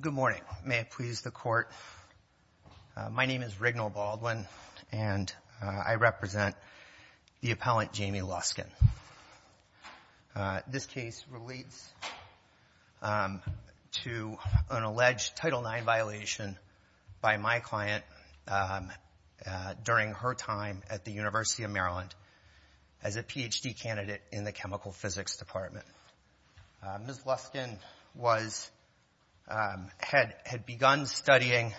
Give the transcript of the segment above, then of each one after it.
Good morning, may I please the court. My name is Rignal Baldwin and I represent the appellant during her time at the University of Maryland as a Ph.D. candidate in the chemical physics department. Ms. Luskin had begun studying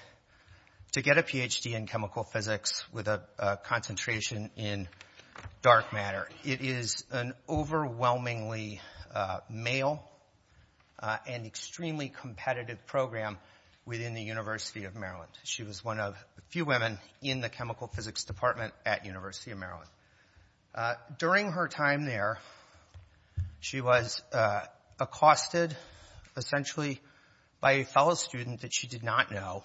to get a Ph.D. in chemical physics with a concentration in dark matter. It is an overwhelmingly male and extremely competitive program within the University of Maryland. She was one of the few women in the chemical physics department at the University of Maryland. During her time there, she was accosted essentially by a fellow student that she did not know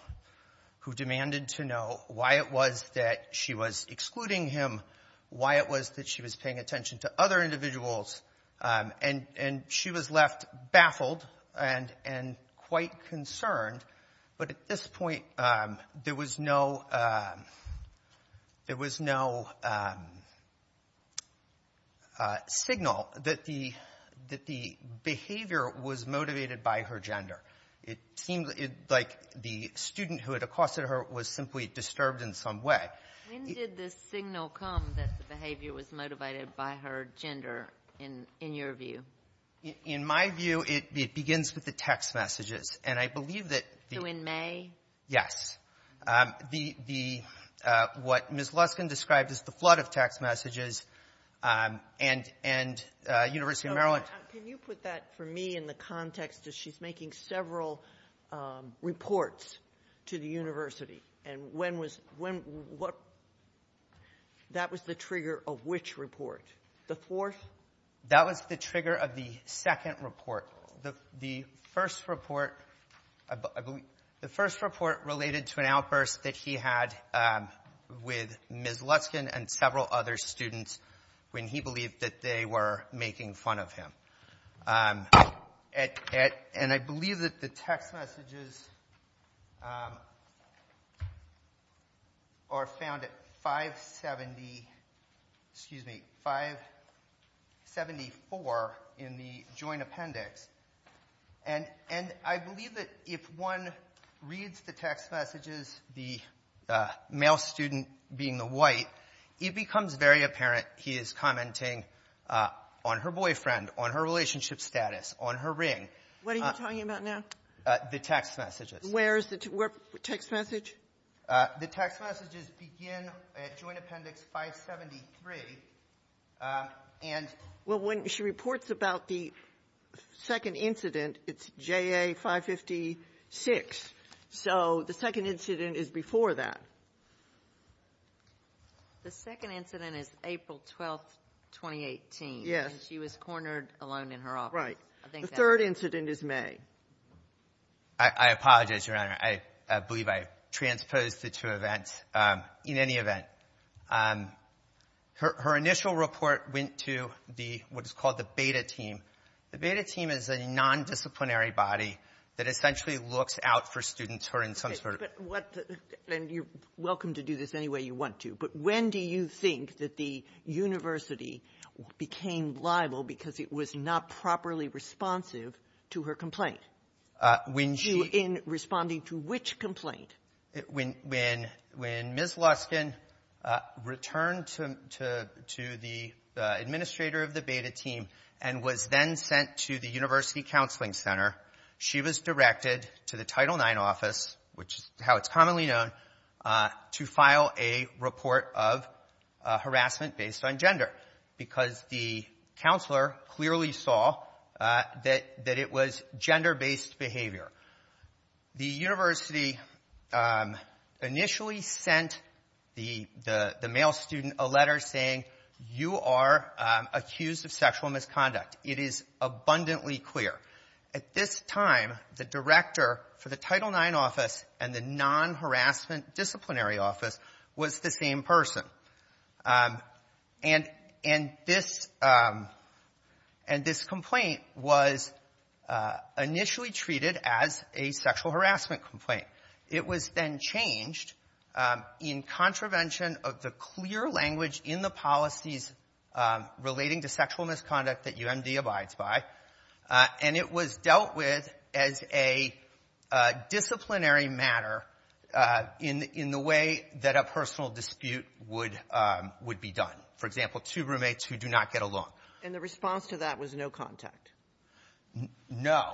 who demanded to know why it was that she was excluding him, why it was that she was paying attention to other individuals, and she was left baffled and quite concerned. But at this point, there was no signal that the behavior was motivated by her gender. It seemed like the student who had accosted her was simply disturbed in some way. When did this signal come that the behavior was motivated by her gender in your view? In my view, it begins with the text messages. And I believe that the — So in May? Yes. The — what Ms. Luskin described as the flood of text messages and University of Maryland — Can you put that for me in the context that she's making several reports to the university? And when was — when — what — that was the trigger of which report? The fourth? That was the trigger of the second report. The first report related to an outburst that he had with Ms. Luskin and several other students when he believed that they were making fun of him. And I believe that the text messages are found at 570 — excuse me, 574 in the joint appendix. And I believe that if one reads the text messages, the male student being the white, it becomes very apparent he is commenting on her boyfriend, on her relationship status, on her ring. What are you talking about now? The text messages. Where is the text message? The text messages begin at Joint Appendix 573, and — Well, when she reports about the second incident, it's JA 556. So the second incident is before that. The second incident is April 12th, 2018. Yes. And she was cornered alone in her office. Right. I think that's — The third incident is May. I apologize, Your Honor. I believe I transposed the two events. In any event, her initial report went to the — what is called the Beta Team. The Beta Team is a nondisciplinary body that essentially looks out for students who are in some sort of — But what — and you're welcome to do this any way you want to. But when do you think that the university became liable because it was not properly responsive to her complaint? When she — In responding to which complaint? When Ms. Luskin returned to the administrator of the Beta Team and was then sent to the University Counseling Center, she was directed to the Title IX office, which is how it's commonly known, to file a report of harassment based on gender because the counselor clearly saw that it was gender-based behavior. The university initially sent the male student a letter saying, you are accused of sexual misconduct. It is abundantly clear. At this time, the director for the Title IX office and the non-harassment disciplinary office was the same person. And this — and this complaint was initially treated as a sexual harassment complaint. It was then changed in contravention of the clear language in the policies relating to sexual misconduct that UMD abides by. And it was dealt with as a disciplinary matter in the way that a personal dispute would be done. For example, two roommates who do not get along. And the response to that was no contact? No.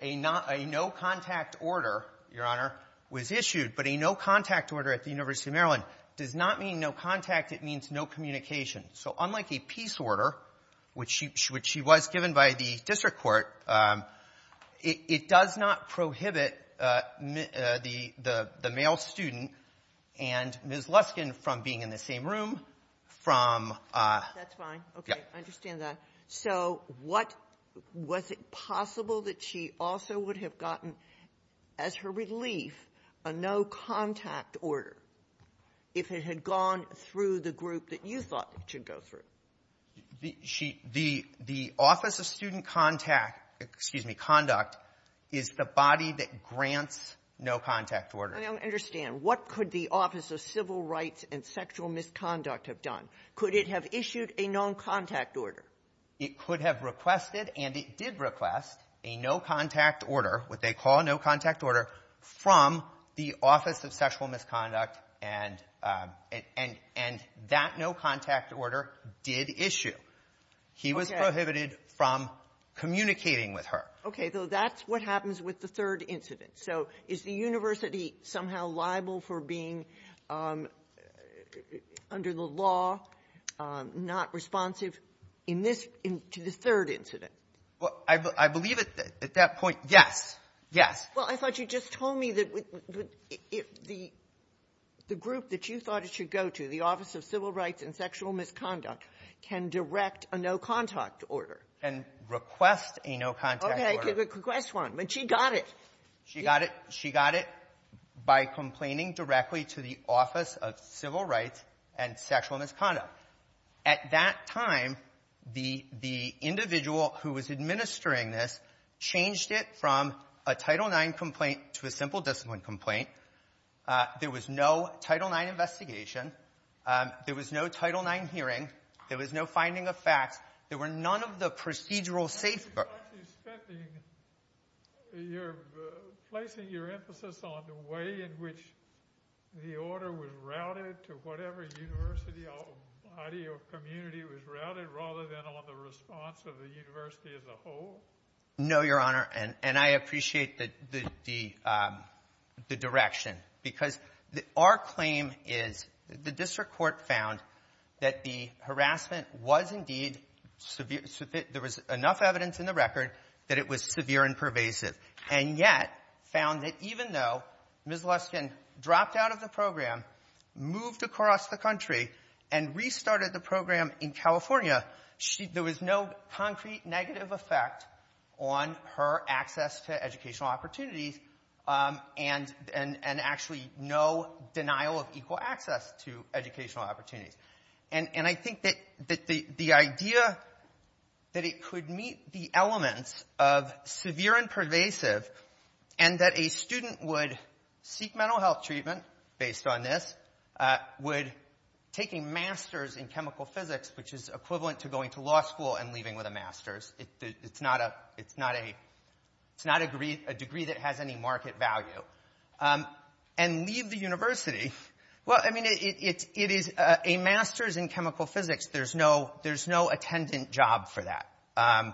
A no-contact order, Your Honor, was issued. But a no-contact order at the University of Maryland does not mean no contact. It means no communication. So unlike a peace order, which she was given by the district court, it does not prohibit the male student and Ms. Luskin from being in the same room from — That's fine. Okay, I understand that. So what — was it possible that she also would have gotten, as her relief, a no-contact order if it had gone through the group that you thought it should go through? She — the Office of Student Contact — excuse me, Conduct is the body that grants no-contact orders. I don't understand. What could the Office of Civil Rights and Sexual Misconduct have done? Could it have issued a no-contact order? It could have requested, and it did request, a no-contact order, what they call a no-contact order, from the Office of Sexual Misconduct. And that no-contact order did issue. He was prohibited from communicating with her. Okay. So that's what happens with the third incident. So is the university somehow liable for being, under the law, not responsive in this — to the third incident? Well, I believe at that point, yes. Yes. Well, I thought you just told me that the group that you thought it should go to, the Office of Civil Rights and Sexual Misconduct, can direct a no-contact order. Can request a no-contact order. Okay. It could request one. But she got it. She got it by complaining directly to the Office of Civil Rights and Sexual Misconduct. At that time, the individual who was administering this changed it from a Title IX complaint to a simple discipline complaint. There was no Title IX investigation. There was no Title IX hearing. There was no finding of facts. There were none of the procedural safeguards. So you're actually speculating — you're placing your emphasis on the way in which the order was routed to whatever university or body or community was routed, rather than on the response of the university as a whole? No, Your Honor. And I appreciate the direction. Because our claim is the district court found that the harassment was indeed severe. There was enough evidence in the record that it was severe and pervasive, and yet found that even though Ms. Luskin dropped out of the program, moved across the country, and restarted the program in California, there was no concrete negative effect on her access to educational opportunities, and actually no denial of equal access to educational opportunities. And I think that the idea that it could meet the elements of severe and pervasive, and that a student would seek mental health treatment based on this, would take a master's in chemical physics, which is equivalent to going to law school and leaving with a master's. It's not a degree that has any market value. And leave the university. Well, I mean, it is a master's in chemical physics. There's no attendant job for that. I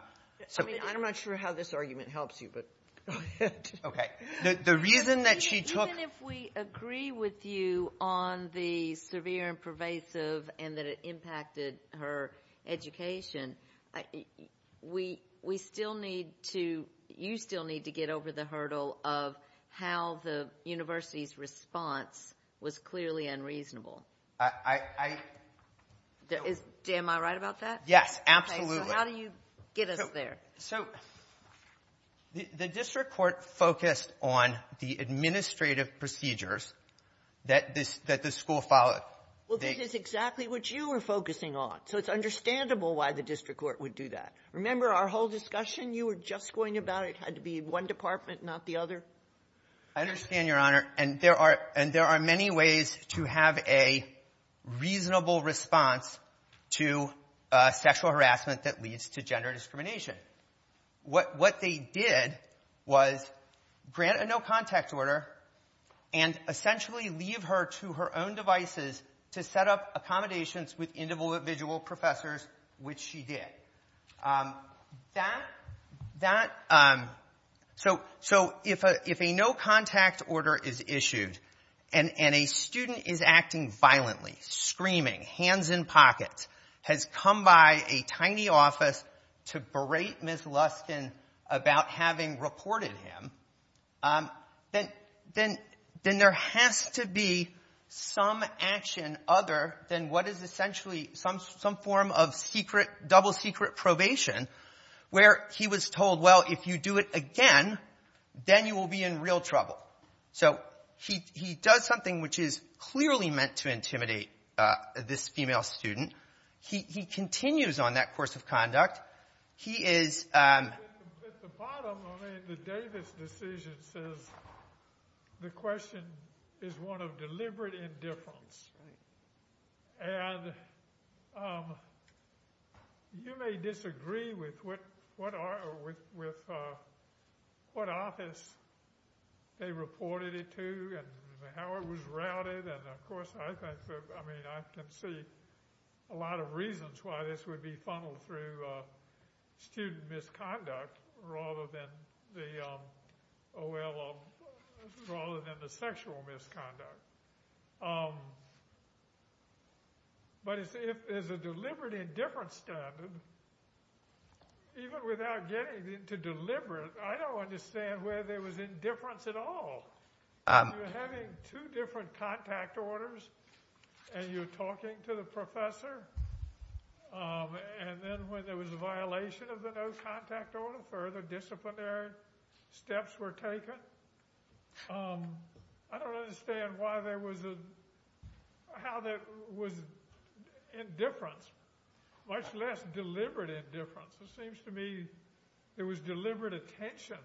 mean, I'm not sure how this argument helps you, but go ahead. Okay. The reason that she took — pervasive and that it impacted her education, we still need to — you still need to get over the hurdle of how the university's response was clearly unreasonable. I — Am I right about that? Yes, absolutely. Okay, so how do you get us there? So the district court focused on the administrative procedures that this — that the school followed. Well, this is exactly what you were focusing on. So it's understandable why the district court would do that. Remember our whole discussion? You were just going about it. It had to be one department, not the other. I understand, Your Honor. And there are many ways to have a reasonable response to sexual harassment that leads to gender discrimination. What they did was grant a no-contact order and essentially leave her to her own devices to set up accommodations with individual professors, which she did. That — that — so if a no-contact order is issued and a student is acting violently, screaming, hands in pockets, has come by a tiny office to berate Ms. Luskin about having reported him, then — then — then there has to be some action other than what is essentially some — some form of secret — double-secret probation where he was told, well, if you do it again, then you will be in real trouble. So he — he does something which is clearly meant to intimidate this female student. He — he continues on that course of conduct. He is — Well, I mean, the Davis decision says the question is one of deliberate indifference. Right. And you may disagree with what — with what office they reported it to and how it was routed. And, of course, I think — I mean, I can see a lot of reasons why this would be funneled through student misconduct rather than the — oh, well, rather than the sexual misconduct. But if there's a deliberate indifference standard, even without getting into deliberate, I don't understand where there was indifference at all. You're having two different contact orders and you're talking to the professor. And then when there was a violation of the no contact order, further disciplinary steps were taken. I don't understand why there was a — how there was indifference, much less deliberate indifference. It seems to me there was deliberate attention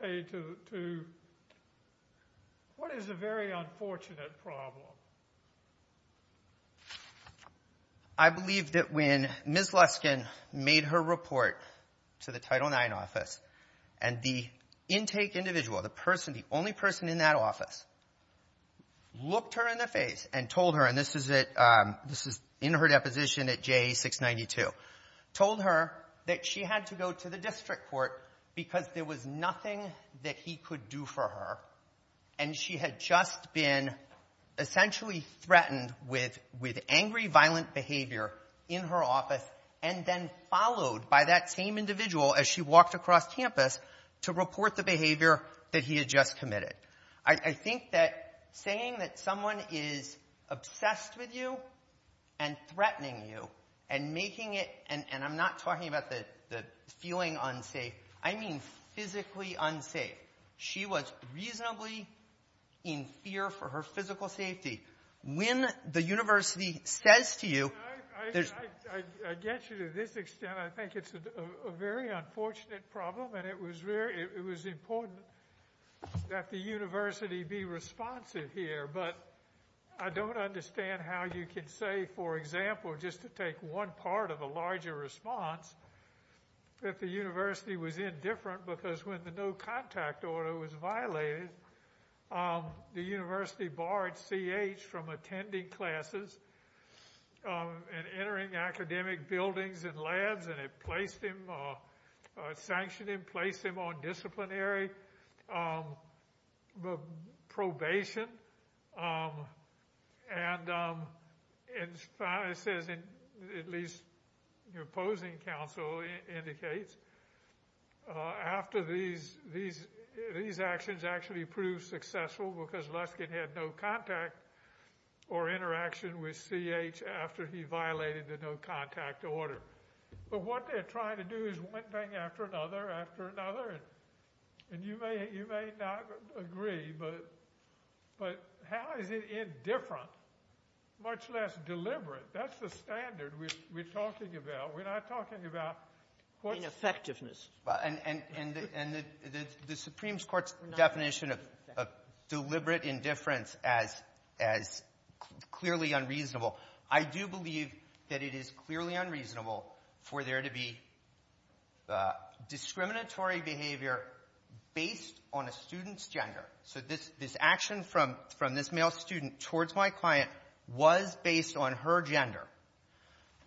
paid to what is a very unfortunate problem. I believe that when Ms. Luskin made her report to the Title IX office and the intake individual, the person — the only person in that office looked her in the face and told her — and this is at — this is in her deposition at JA-692 — told her that she had to go to the district court because there was nothing that he could do for her. And she had just been essentially threatened with angry, violent behavior in her office and then followed by that same individual as she walked across campus to report the behavior that he had just committed. I think that saying that someone is obsessed with you and threatening you and making it — and I'm not talking about the feeling unsafe. I mean physically unsafe. She was reasonably in fear for her physical safety. When the university says to you — I get you to this extent. I think it's a very unfortunate problem, and it was very — it was important that the university be responsive here, but I don't understand how you can say, for example, just to take one part of a larger response, if the university was indifferent because when the no-contact order was violated, the university barred C.H. from attending classes and entering academic buildings and labs and it placed him — sanctioned him, placed him on disciplinary probation. And it says, at least the opposing counsel indicates, after these actions actually proved successful because Luskin had no contact or interaction with C.H. after he violated the no-contact order. But what they're trying to do is one thing after another after another, and you may not agree, but how is it indifferent, much less deliberate? That's the standard we're talking about. We're not talking about what's — Ineffectiveness. And the Supreme Court's definition of deliberate indifference as clearly unreasonable. I do believe that it is clearly unreasonable for there to be discriminatory behavior based on a student's gender. So this action from this male student towards my client was based on her gender.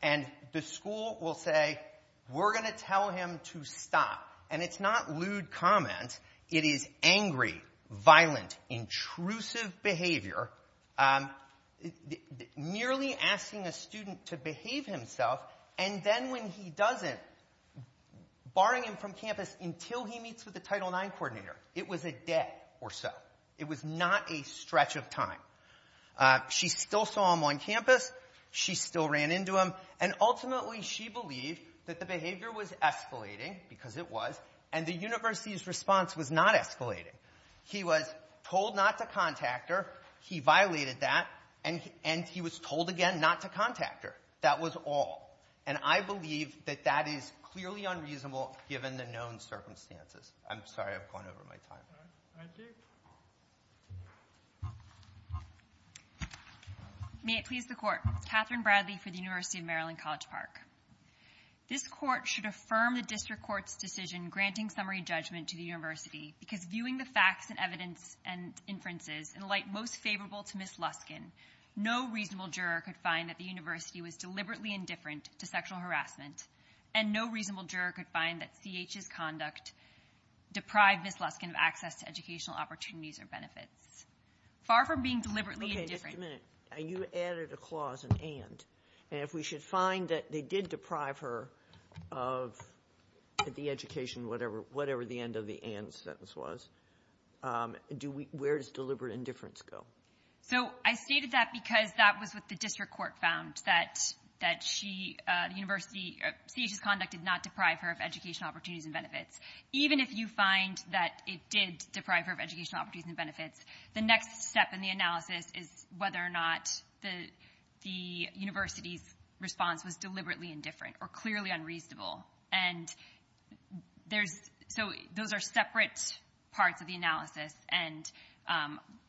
And the school will say, we're going to tell him to stop. And it's not lewd comment. It is angry, violent, intrusive behavior. Nearly asking a student to behave himself, and then when he doesn't, barring him from campus until he meets with the Title IX coordinator. It was a day or so. It was not a stretch of time. She still saw him on campus. She still ran into him. And ultimately she believed that the behavior was escalating, because it was, and the university's response was not escalating. He was told not to contact her. He violated that. And he was told again not to contact her. That was all. And I believe that that is clearly unreasonable given the known circumstances. I'm sorry. I've gone over my time. Thank you. May it please the Court. Katherine Bradley for the University of Maryland College Park. This Court should affirm the district court's decision granting summary judgment to the university, because viewing the facts and evidence and inferences in a light most favorable to Ms. Luskin, no reasonable juror could find that the university was deliberately indifferent to sexual harassment, and no reasonable juror could find that CH's conduct deprived Ms. Luskin of access to educational opportunities or benefits. Far from being deliberately indifferent. Sotomayor, you added a clause, an and. And if we should find that they did deprive her of the education, whatever the end of the and sentence was, where does deliberate indifference go? So I stated that because that was what the district court found, that she, the university, CH's conduct did not deprive her of educational opportunities and benefits. Even if you find that it did deprive her of educational opportunities and benefits, the next step in the analysis is whether or not the university's response was deliberately indifferent or clearly unreasonable. And there's, so those are separate parts of the analysis, and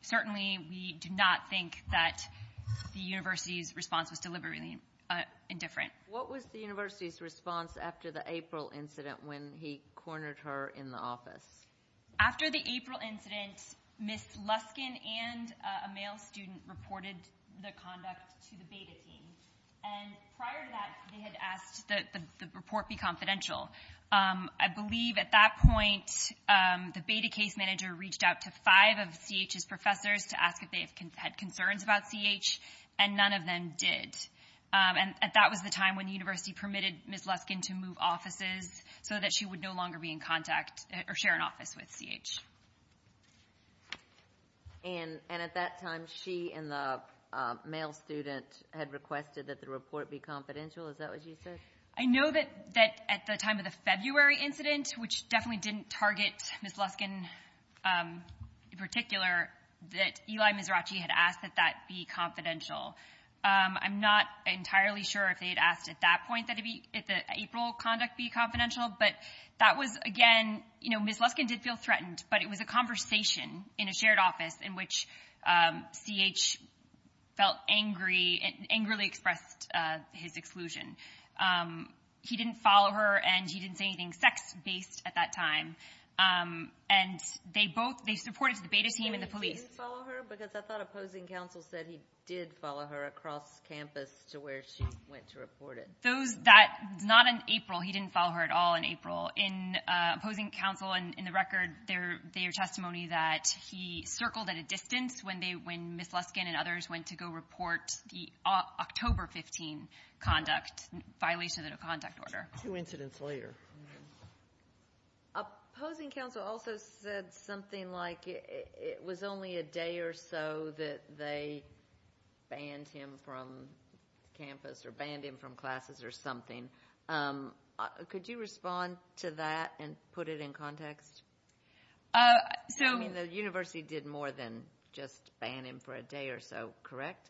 certainly we do not think that the university's response was deliberately indifferent. What was the university's response after the April incident when he cornered her in the office? After the April incident, Ms. Luskin and a male student reported the conduct to the beta team. And prior to that, they had asked that the report be confidential. I believe at that point the beta case manager reached out to five of CH's professors to ask if they had concerns about CH, and none of them did. And that was the time when the university permitted Ms. Luskin to move offices so that she would no longer be in contact or share an office with CH. And at that time, she and the male student had requested that the report be confidential. Is that what you said? I know that at the time of the February incident, which definitely didn't target Ms. Luskin in particular, that Eli Mizrachi had asked that that be confidential. I'm not entirely sure if they had asked at that point that the April conduct be confidential, but that was, again, you know, Ms. Luskin did feel threatened but it was a conversation in a shared office in which CH felt angry and angrily expressed his exclusion. He didn't follow her and he didn't say anything sex-based at that time. And they both, they supported the beta team and the police. And he didn't follow her? Because I thought opposing counsel said he did follow her across campus to where she went to report it. Those that, not in April, he didn't follow her at all in April. In opposing counsel, in the record, their testimony that he circled at a distance when Ms. Luskin and others went to go report the October 15 conduct, violation of the conduct order. Two incidents later. Opposing counsel also said something like it was only a day or so that they banned him from campus or banned him from classes or something. Could you respond to that and put it in context? I mean, the university did more than just ban him for a day or so, correct?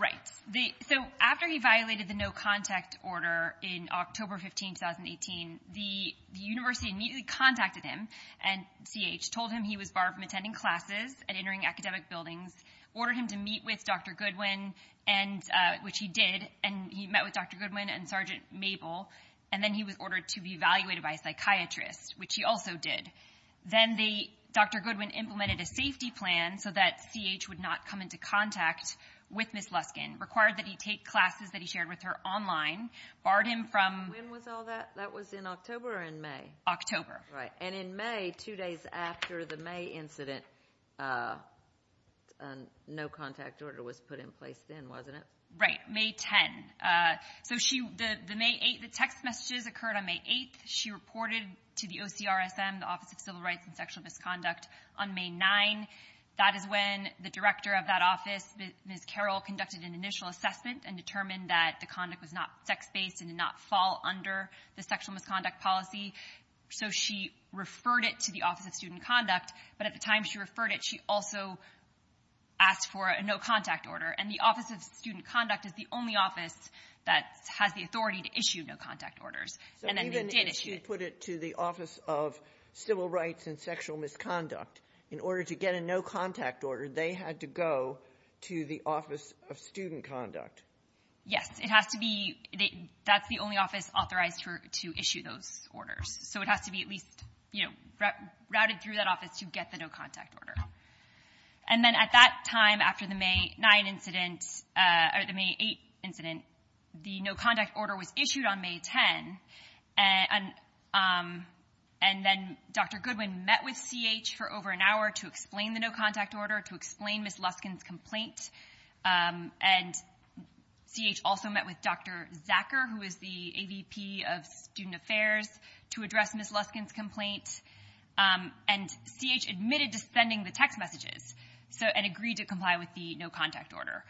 Right. So after he violated the no contact order in October 15, 2018, the university immediately contacted him and CH, told him he was barred from attending classes and entering academic buildings, ordered him to meet with Dr. Goodwin, which he did, and he met with Dr. Goodwin and Sergeant Mabel, and then he was ordered to be evaluated by a psychiatrist, which he also did. Then Dr. Goodwin implemented a safety plan so that CH would not come into contact with Ms. Luskin, required that he take classes that he shared with her online, barred him from- When was all that? That was in October or in May? October. Right. And in May, two days after the May incident, no contact order was put in place then, wasn't it? Right. May 10. So the text messages occurred on May 8. She reported to the OCRSM, the Office of Civil Rights and Sexual Misconduct, on May 9. That is when the director of that office, Ms. Carroll, conducted an initial assessment and determined that the conduct was not sex-based and did not fall under the sexual misconduct policy. So she referred it to the Office of Student Conduct, but at the time she referred it, she also asked for a no-contact order. And the Office of Student Conduct is the only office that has the authority to issue no-contact orders. And then they did issue it. So even if you put it to the Office of Civil Rights and Sexual Misconduct, in order to get a no-contact order, they had to go to the Office of Student Conduct? It has to be. That's the only office authorized to issue those orders. So it has to be at least routed through that office to get the no-contact order. And then at that time, after the May 9 incident, or the May 8 incident, the no-contact order was issued on May 10. And then Dr. Goodwin met with CH for over an hour to explain the no-contact order, to explain Ms. Luskin's complaint. And CH also met with Dr. Zacker, who is the AVP of Student Affairs, to address Ms. Luskin's complaint. And CH admitted to sending the text messages and agreed to comply with the no-contact order.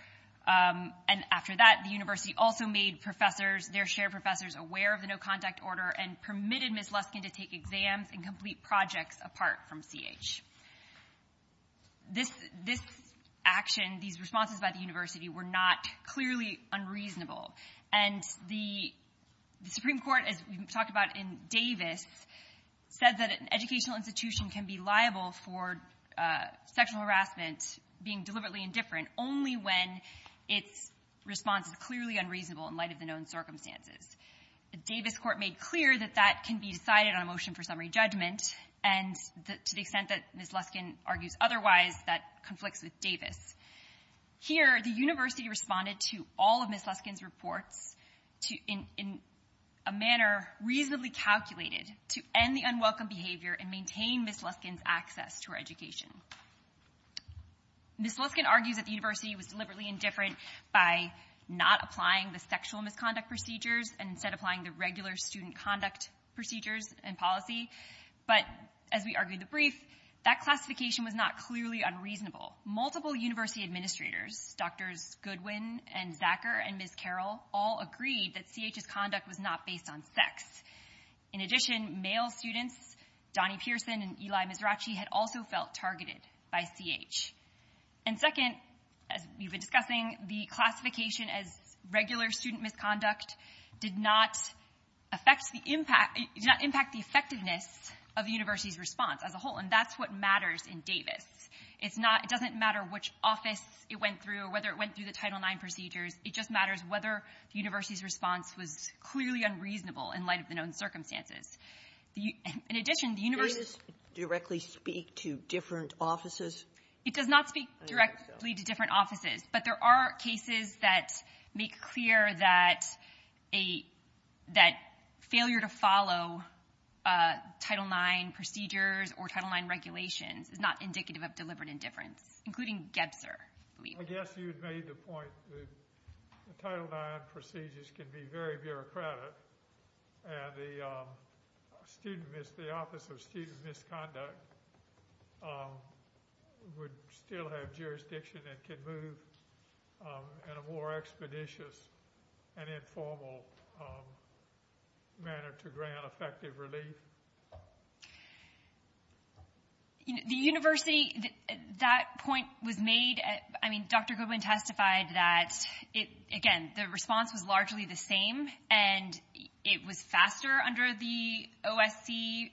And after that, the university also made professors, their shared professors, aware of the no-contact order and permitted Ms. Luskin to take exams and complete projects apart from CH. This action, these responses by the university, were not clearly unreasonable. And the Supreme Court, as we talked about in Davis, said that an educational institution can be liable for sexual harassment, being deliberately indifferent, only when its response is clearly unreasonable in light of the known circumstances. The Davis court made clear that that can be decided on a motion for summary judgment. And to the extent that Ms. Luskin argues otherwise, that conflicts with Davis. Here, the university responded to all of Ms. Luskin's reports in a manner reasonably calculated to end the unwelcome behavior and maintain Ms. Luskin's access to her education. Ms. Luskin argues that the university was deliberately indifferent by not applying the sexual misconduct procedures and instead applying the regular student conduct procedures and policy. But as we argued the brief, that classification was not clearly unreasonable. Multiple university administrators, Drs. Goodwin and Zacker and Ms. Carroll, all agreed that CH's conduct was not based on sex. In addition, male students, Donnie Pearson and Eli Mizrachi, had also felt targeted by CH. And second, as we've been discussing, the classification as regular student conduct and sexual misconduct did not affect the impact, did not impact the effectiveness of the university's response as a whole. And that's what matters in Davis. It's not — it doesn't matter which office it went through or whether it went through the Title IX procedures. It just matters whether the university's response was clearly unreasonable in light of the known circumstances. In addition, the university — Sotomayor's directly speak to different offices? It does not speak directly to different offices. But there are cases that make clear that a — that failure to follow Title IX procedures or Title IX regulations is not indicative of deliberate indifference, including Gebser, I believe. I guess you'd made the point that the Title IX procedures can be very bureaucratic and the student — the Office of Student Misconduct would still have jurisdiction and can move in a more expeditious and informal manner to grant effective relief. The university — that point was made — I mean, Dr. Goodwin testified that, again, the response was largely the same and it was faster under the OSC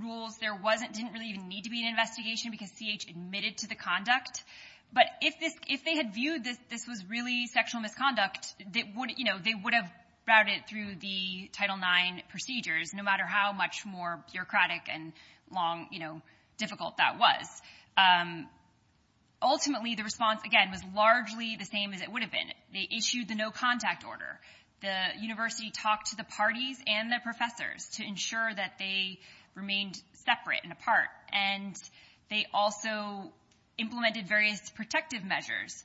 rules. There wasn't — didn't really even need to be an investigation because C.H. admitted to the conduct. But if this — if they had viewed that this was really sexual misconduct, they would — you know, they would have routed it through the Title IX procedures, no matter how much more bureaucratic and long, you know, difficult that was. Ultimately, the response, again, was largely the same as it would have been. They issued the no-contact order. The university talked to the parties and the professors to ensure that they remained separate and apart. And they also implemented various protective measures,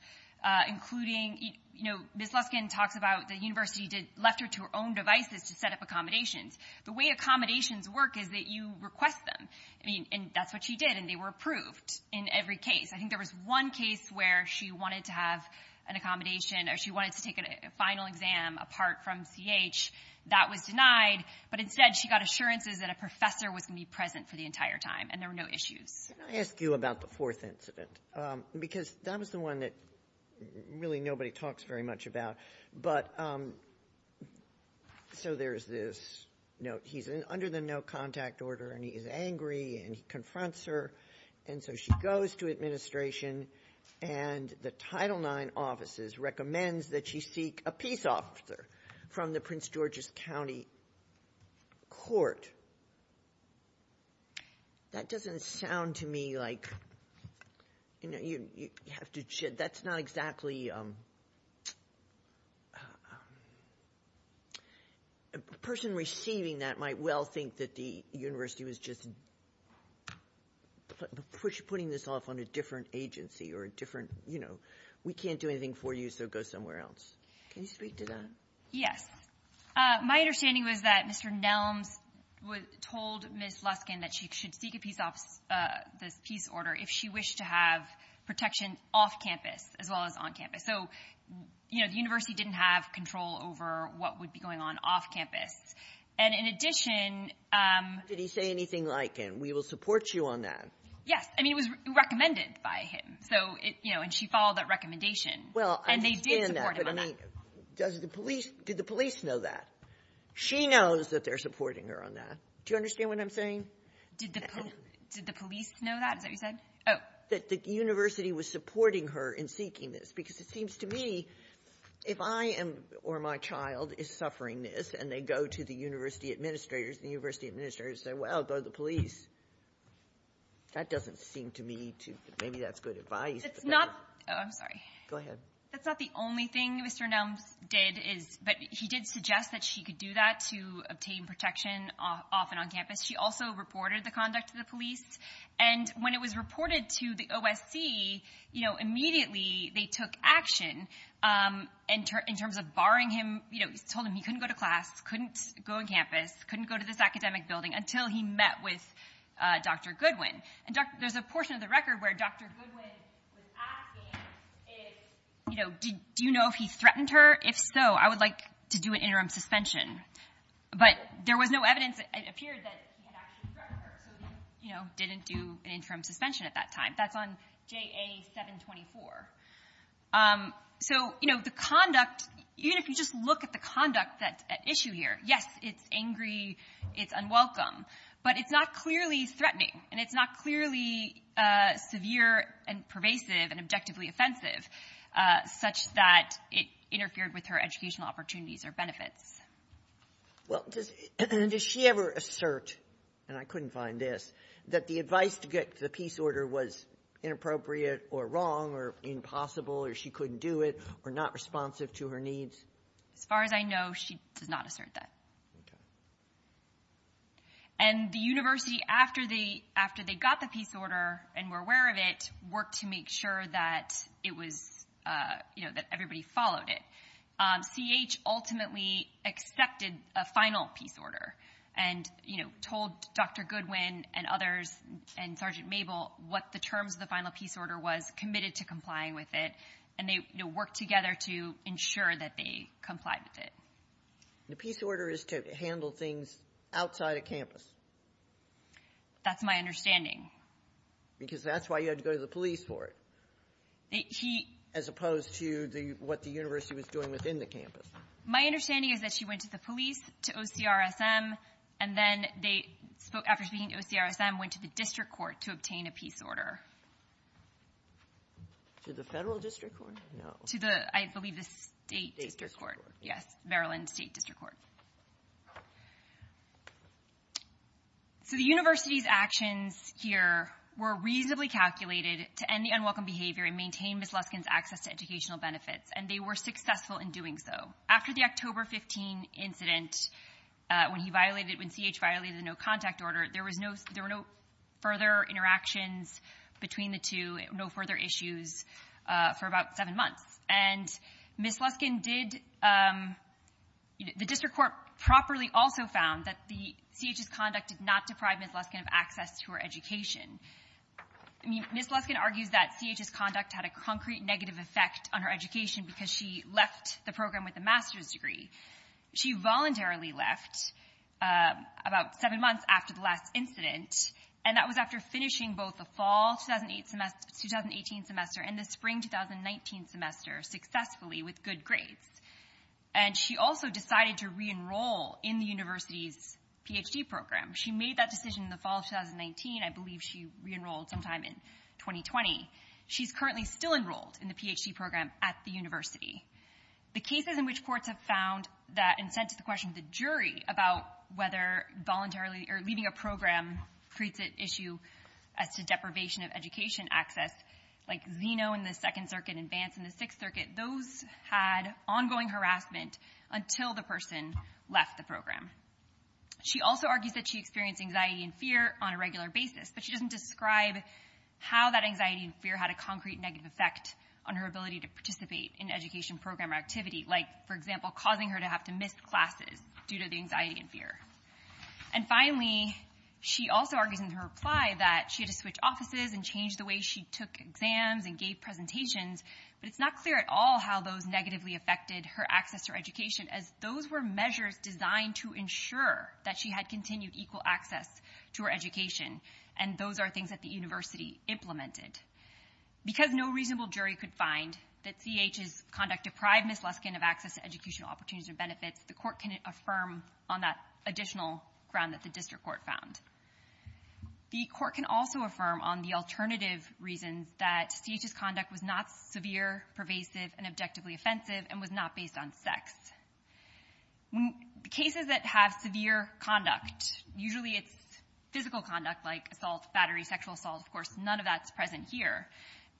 including — you know, Ms. Luskin talks about the university left her to her own devices to set up accommodations. The way accommodations work is that you request them, and that's what she did, and they were approved in every case. I think there was one case where she wanted to have an accommodation or she wanted to take a final exam apart from C.H. That was denied, but instead she got assurances that a professor was going to be present for the entire time, and there were no issues. Can I ask you about the fourth incident? Because that was the one that really nobody talks very much about. But — so there's this note. He's under the no-contact order, and he is angry, and he confronts her. And so she goes to administration, and the Title IX offices recommends that she seek a peace officer from the Prince George's County Court. That doesn't sound to me like — you know, you have to — that's not exactly — a person receiving that might well think that the university was just putting this off on a different agency or a different — you know, we can't do anything for you, so go somewhere else. Can you speak to that? Yes. My understanding was that Mr. Nelms told Ms. Luskin that she should seek a peace officer — this peace order if she wished to have protection off campus as well as on campus. So, you know, the university didn't have control over what would be going on off campus. And in addition — Did he say anything like, and we will support you on that? Yes. I mean, it was recommended by him. So, you know, and she followed that recommendation. Well, I understand that. And they did support him on that. But I mean, does the police — did the police know that? She knows that they're supporting her on that. Do you understand what I'm saying? Did the police know that? Is that what you said? Oh. Did they know that the university was supporting her in seeking this? Because it seems to me if I am — or my child is suffering this and they go to the university administrators and the university administrators say, well, go to the police, that doesn't seem to me to — maybe that's good advice. It's not — oh, I'm sorry. Go ahead. That's not the only thing Mr. Nelms did is — but he did suggest that she could do that to obtain protection off and on campus. She also reported the conduct to the police. And when it was reported to the OSC, you know, immediately they took action in terms of barring him — you know, told him he couldn't go to class, couldn't go on campus, couldn't go to this academic building until he met with Dr. Goodwin. And there's a portion of the record where Dr. Goodwin was asking if, you know, do you know if he threatened her? If so, I would like to do an interim suspension. But there was no evidence, it appeared, that he had actually threatened her. So he, you know, didn't do an interim suspension at that time. That's on JA-724. So, you know, the conduct — even if you just look at the conduct at issue here, yes, it's angry, it's unwelcome, but it's not clearly threatening and it's not clearly severe and pervasive and objectively offensive, such that it interfered with her educational opportunities or benefits. Well, does she ever assert, and I couldn't find this, that the advice to get the peace order was inappropriate or wrong or impossible or she couldn't do it or not responsive to her needs? As far as I know, she does not assert that. Okay. And the university, after they got the peace order and were aware of it, worked to make sure that it was — you know, that everybody followed it. CH ultimately accepted a final peace order and, you know, told Dr. Goodwin and others and Sergeant Mabel what the terms of the final peace order was, committed to complying with it, and they, you know, worked together to ensure that they complied with it. The peace order is to handle things outside of campus. That's my understanding. Because that's why you had to go to the police for it. He — As opposed to what the university was doing within the campus. My understanding is that she went to the police, to OCRSM, and then they spoke — after speaking to OCRSM, went to the district court to obtain a peace order. To the federal district court? No. To the — I believe the state district court. State district court. Yes. Maryland State District Court. So the university's actions here were reasonably calculated to end the unwelcome behavior and maintain Ms. Luskin's access to educational benefits, and they were successful in doing so. After the October 15 incident, when he violated — when CH violated the no-contact order, there was no — there were no further interactions between the two, no further issues for about seven months. And Ms. Luskin did — the district court properly also found that the — CH's conduct did not deprive Ms. Luskin of access to her education. I mean, Ms. Luskin argues that CH's conduct had a concrete negative effect on her education because she left the program with a master's degree. She voluntarily left about seven months after the last incident, and that was after finishing both the fall 2018 semester and the spring 2019 semester successfully with good grades. And she also decided to re-enroll in the university's Ph.D. program. She made that decision in the fall of 2019. I believe she re-enrolled sometime in 2020. She's currently still enrolled in the Ph.D. program at the university. The cases in which courts have found that — and sent to the question of the jury about whether voluntarily — or leaving a program creates an issue as to deprivation of education access, like Zeno in the Second Circuit and Vance in the Sixth Circuit, those had ongoing harassment until the person left the program. She also argues that she experienced anxiety and fear on a regular basis, but she doesn't describe how that anxiety and fear had a concrete negative effect on her ability to participate in education program activity, like, for example, causing her to have to miss classes due to the anxiety and fear. And finally, she also argues in her reply that she had to switch offices and change the way she took exams and gave presentations, but it's not clear at all how those negatively affected her access to her education, as those were measures designed to ensure that she had continued equal access to her education, and those are things that the university implemented. Because no reasonable jury could find that CH's conduct deprived Ms. Luskin of access to educational opportunities or benefits, the court can affirm on that additional ground that the district court found. The court can also affirm on the alternative reasons that CH's conduct was not severe, pervasive, and objectively offensive and was not based on sex. Cases that have severe conduct, usually it's physical conduct like assault, battery, sexual assault. Of course, none of that's present here.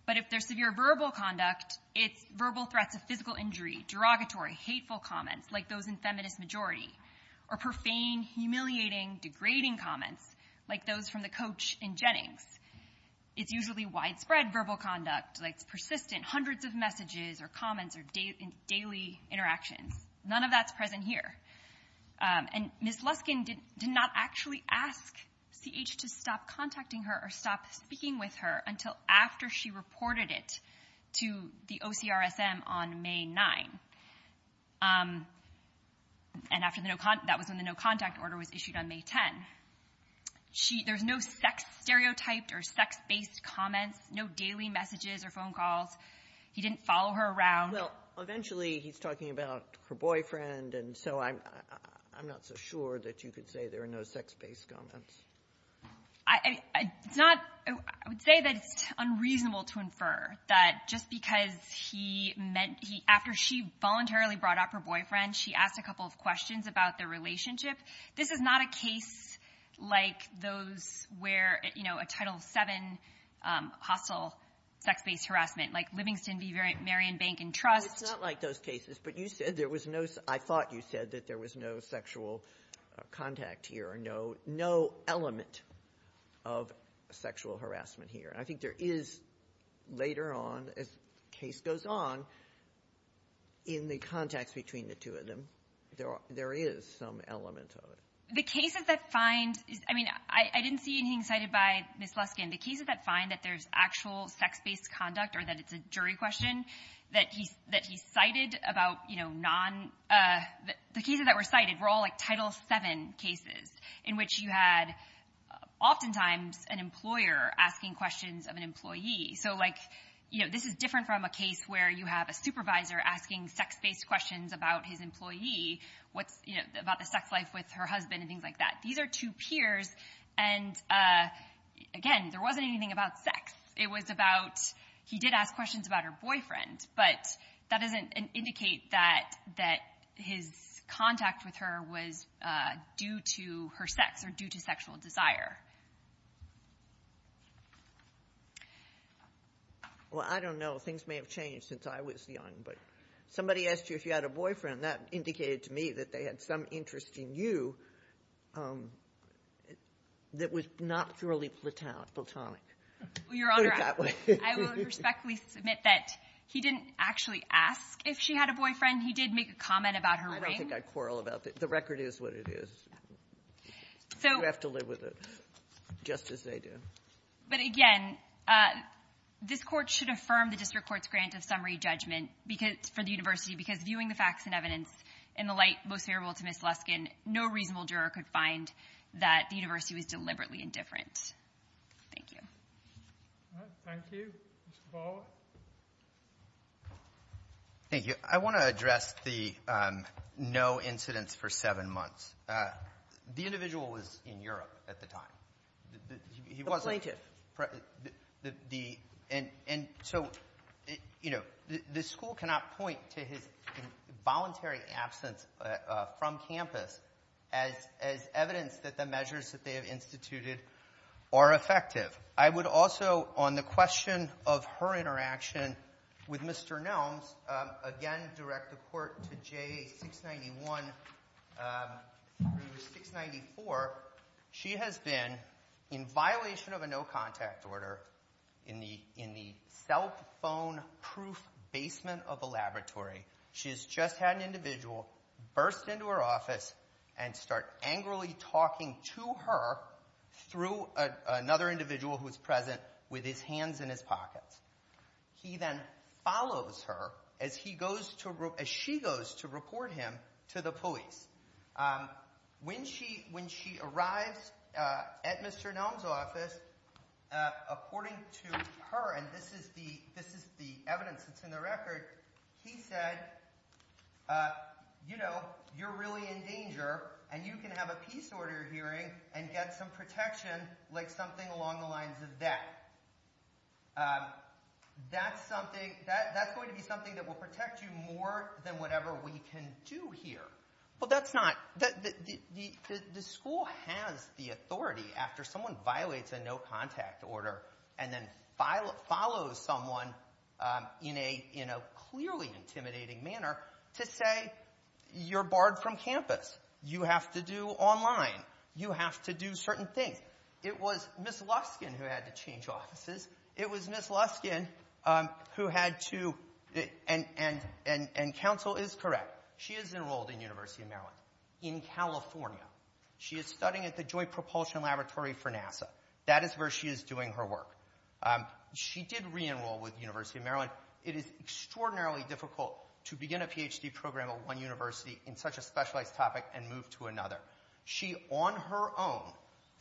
But if there's severe verbal conduct, it's verbal threats of physical injury, derogatory, hateful comments like those in feminist majority, or profane, humiliating, degrading comments like those from the coach in Jennings. It's usually widespread verbal conduct. It's persistent, hundreds of messages or comments or daily interactions. None of that's present here. And Ms. Luskin did not actually ask CH to stop contacting her or stop speaking with her until after she reported it to the OCRSM on May 9. And that was when the no-contact order was issued on May 10. There's no sex-stereotyped or sex-based comments, no daily messages or phone calls. He didn't follow her around. Well, eventually he's talking about her boyfriend, and so I'm not so sure that you could say there are no sex-based comments. I would say that it's unreasonable to infer that just because he meant he – after she voluntarily brought up her boyfriend, she asked a couple of questions about their relationship. This is not a case like those where a Title VII hostile sex-based harassment, like Livingston v. Marion Bank & Trust. It's not like those cases. But you said there was no – I thought you said that there was no sexual contact here or no element of sexual harassment here. And I think there is later on, as the case goes on, in the contacts between the two of them, there is some element of it. The cases that find – I mean, I didn't see anything cited by Ms. Luskin. The cases that find that there's actual sex-based conduct or that it's a jury question, that he cited about non – the cases that were cited were all like Title VII cases in which you had oftentimes an employer asking questions of an employee. So, like, this is different from a case where you have a supervisor asking sex-based questions about his employee about the sex life with her husband and things like that. These are two peers, and, again, there wasn't anything about sex. It was about – he did ask questions about her boyfriend, but that doesn't indicate that his contact with her was due to her sex or due to sexual desire. Well, I don't know. Things may have changed since I was young. But somebody asked you if you had a boyfriend. That indicated to me that they had some interest in you that was not thoroughly platonic. Well, Your Honor, I will respectfully submit that he didn't actually ask if she had a boyfriend. He did make a comment about her ring. I don't think I'd quarrel about that. The record is what it is. You have to live with it just as they do. But, again, this Court should affirm the district court's grant of summary judgment because – for the university, because viewing the facts and evidence in the light most favorable to Ms. Luskin, no reasonable juror could find that the university was deliberately indifferent. Thank you. Thank you. Mr. Ballard. Thank you. I want to address the no incidents for seven months. The individual was in Europe at the time. He wasn't. The plaintiff. And so, you know, the school cannot point to his voluntary absence from campus as evidence that the measures that they have instituted are effective. I would also, on the question of her interaction with Mr. Nelms, again direct the Court to JA 691 through 694. She has been, in violation of a no contact order, in the cell phone proof basement of a laboratory. She has just had an individual burst into her office and start angrily talking to her through another individual who was present with his hands in his pockets. He then follows her as she goes to report him to the police. When she arrives at Mr. Nelms' office, according to her, and this is the evidence that's in the record, he said, you know, you're really in danger and you can have a peace order hearing and get some protection like something along the lines of that. That's going to be something that will protect you more than whatever we can do here. Well, that's not, the school has the authority after someone violates a no contact order and then follows someone in a clearly intimidating manner to say, you're barred from campus. You have to do online. You have to do certain things. It was Ms. Luskin who had to change offices. It was Ms. Luskin who had to, and counsel is correct. She is enrolled in the University of Maryland in California. She is studying at the Joint Propulsion Laboratory for NASA. That is where she is doing her work. She did re-enroll with the University of Maryland. It is extraordinarily difficult to begin a Ph.D. program at one university in such a specialized topic and move to another. She, on her own,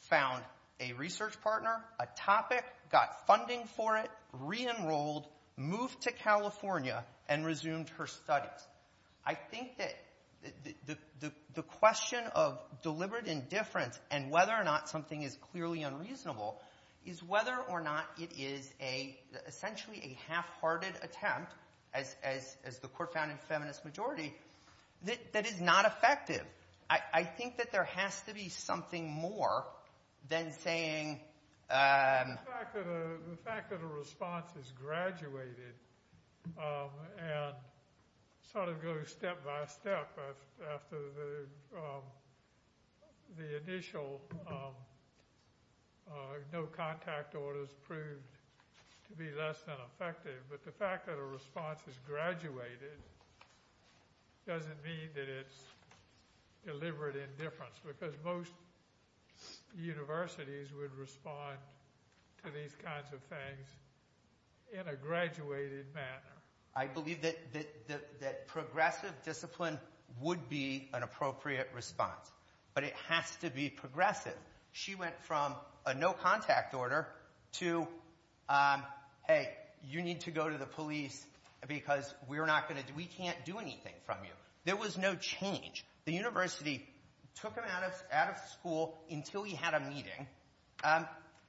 found a research partner, a topic, got funding for it, re-enrolled, moved to California, and resumed her studies. I think that the question of deliberate indifference and whether or not something is clearly unreasonable is whether or not it is essentially a half-hearted attempt, as the Court found in Feminist Majority, that is not effective. I think that there has to be something more than saying. The fact that a response is graduated and sort of goes step by step after the initial no contact order has proved to be less than effective, but the fact that a response is graduated doesn't mean that it is deliberate indifference because most universities would respond to these kinds of things in a graduated manner. I believe that progressive discipline would be an appropriate response, but it has to be progressive. She went from a no contact order to, hey, you need to go to the police because we can't do anything from you. There was no change. The university took him out of school until he had a meeting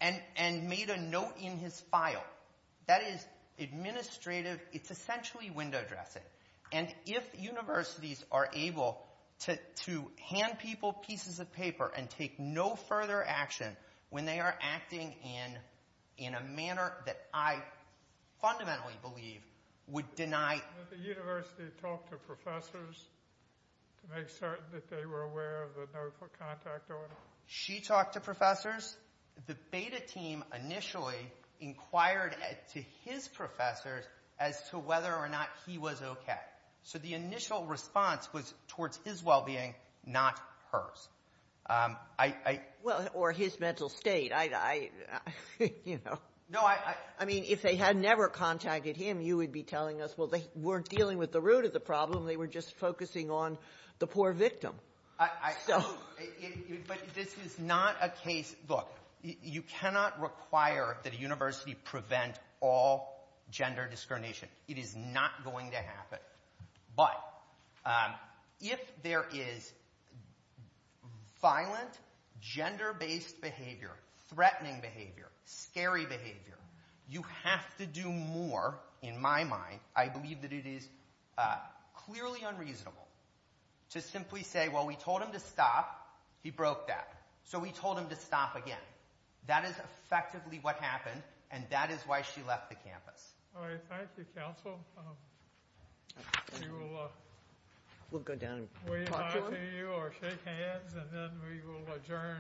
and made a note in his file. That is administrative. It's essentially window dressing, and if universities are able to hand people pieces of paper and take no further action when they are acting in a manner that I fundamentally believe would deny Did the university talk to professors to make certain that they were aware of the no contact order? She talked to professors. The beta team initially inquired to his professors as to whether or not he was okay. So the initial response was towards his well-being, not hers. Or his mental state. I mean, if they had never contacted him, you would be telling us, well, they weren't dealing with the root of the problem. They were just focusing on the poor victim. But this is not a case. Look, you cannot require that a university prevent all gender discrimination. It is not going to happen. But if there is violent gender-based behavior, threatening behavior, scary behavior, you have to do more, in my mind. I believe that it is clearly unreasonable to simply say, well, we told him to stop. He broke that. So we told him to stop again. That is effectively what happened, and that is why she left the campus. All right. Thank you, counsel. We'll go down and talk to her. We will shake hands, and then we will adjourn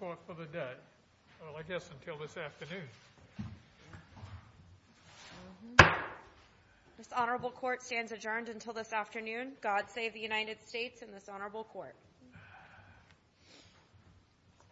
court for the day. Well, I guess until this afternoon. This honorable court stands adjourned until this afternoon. God save the United States and this honorable court.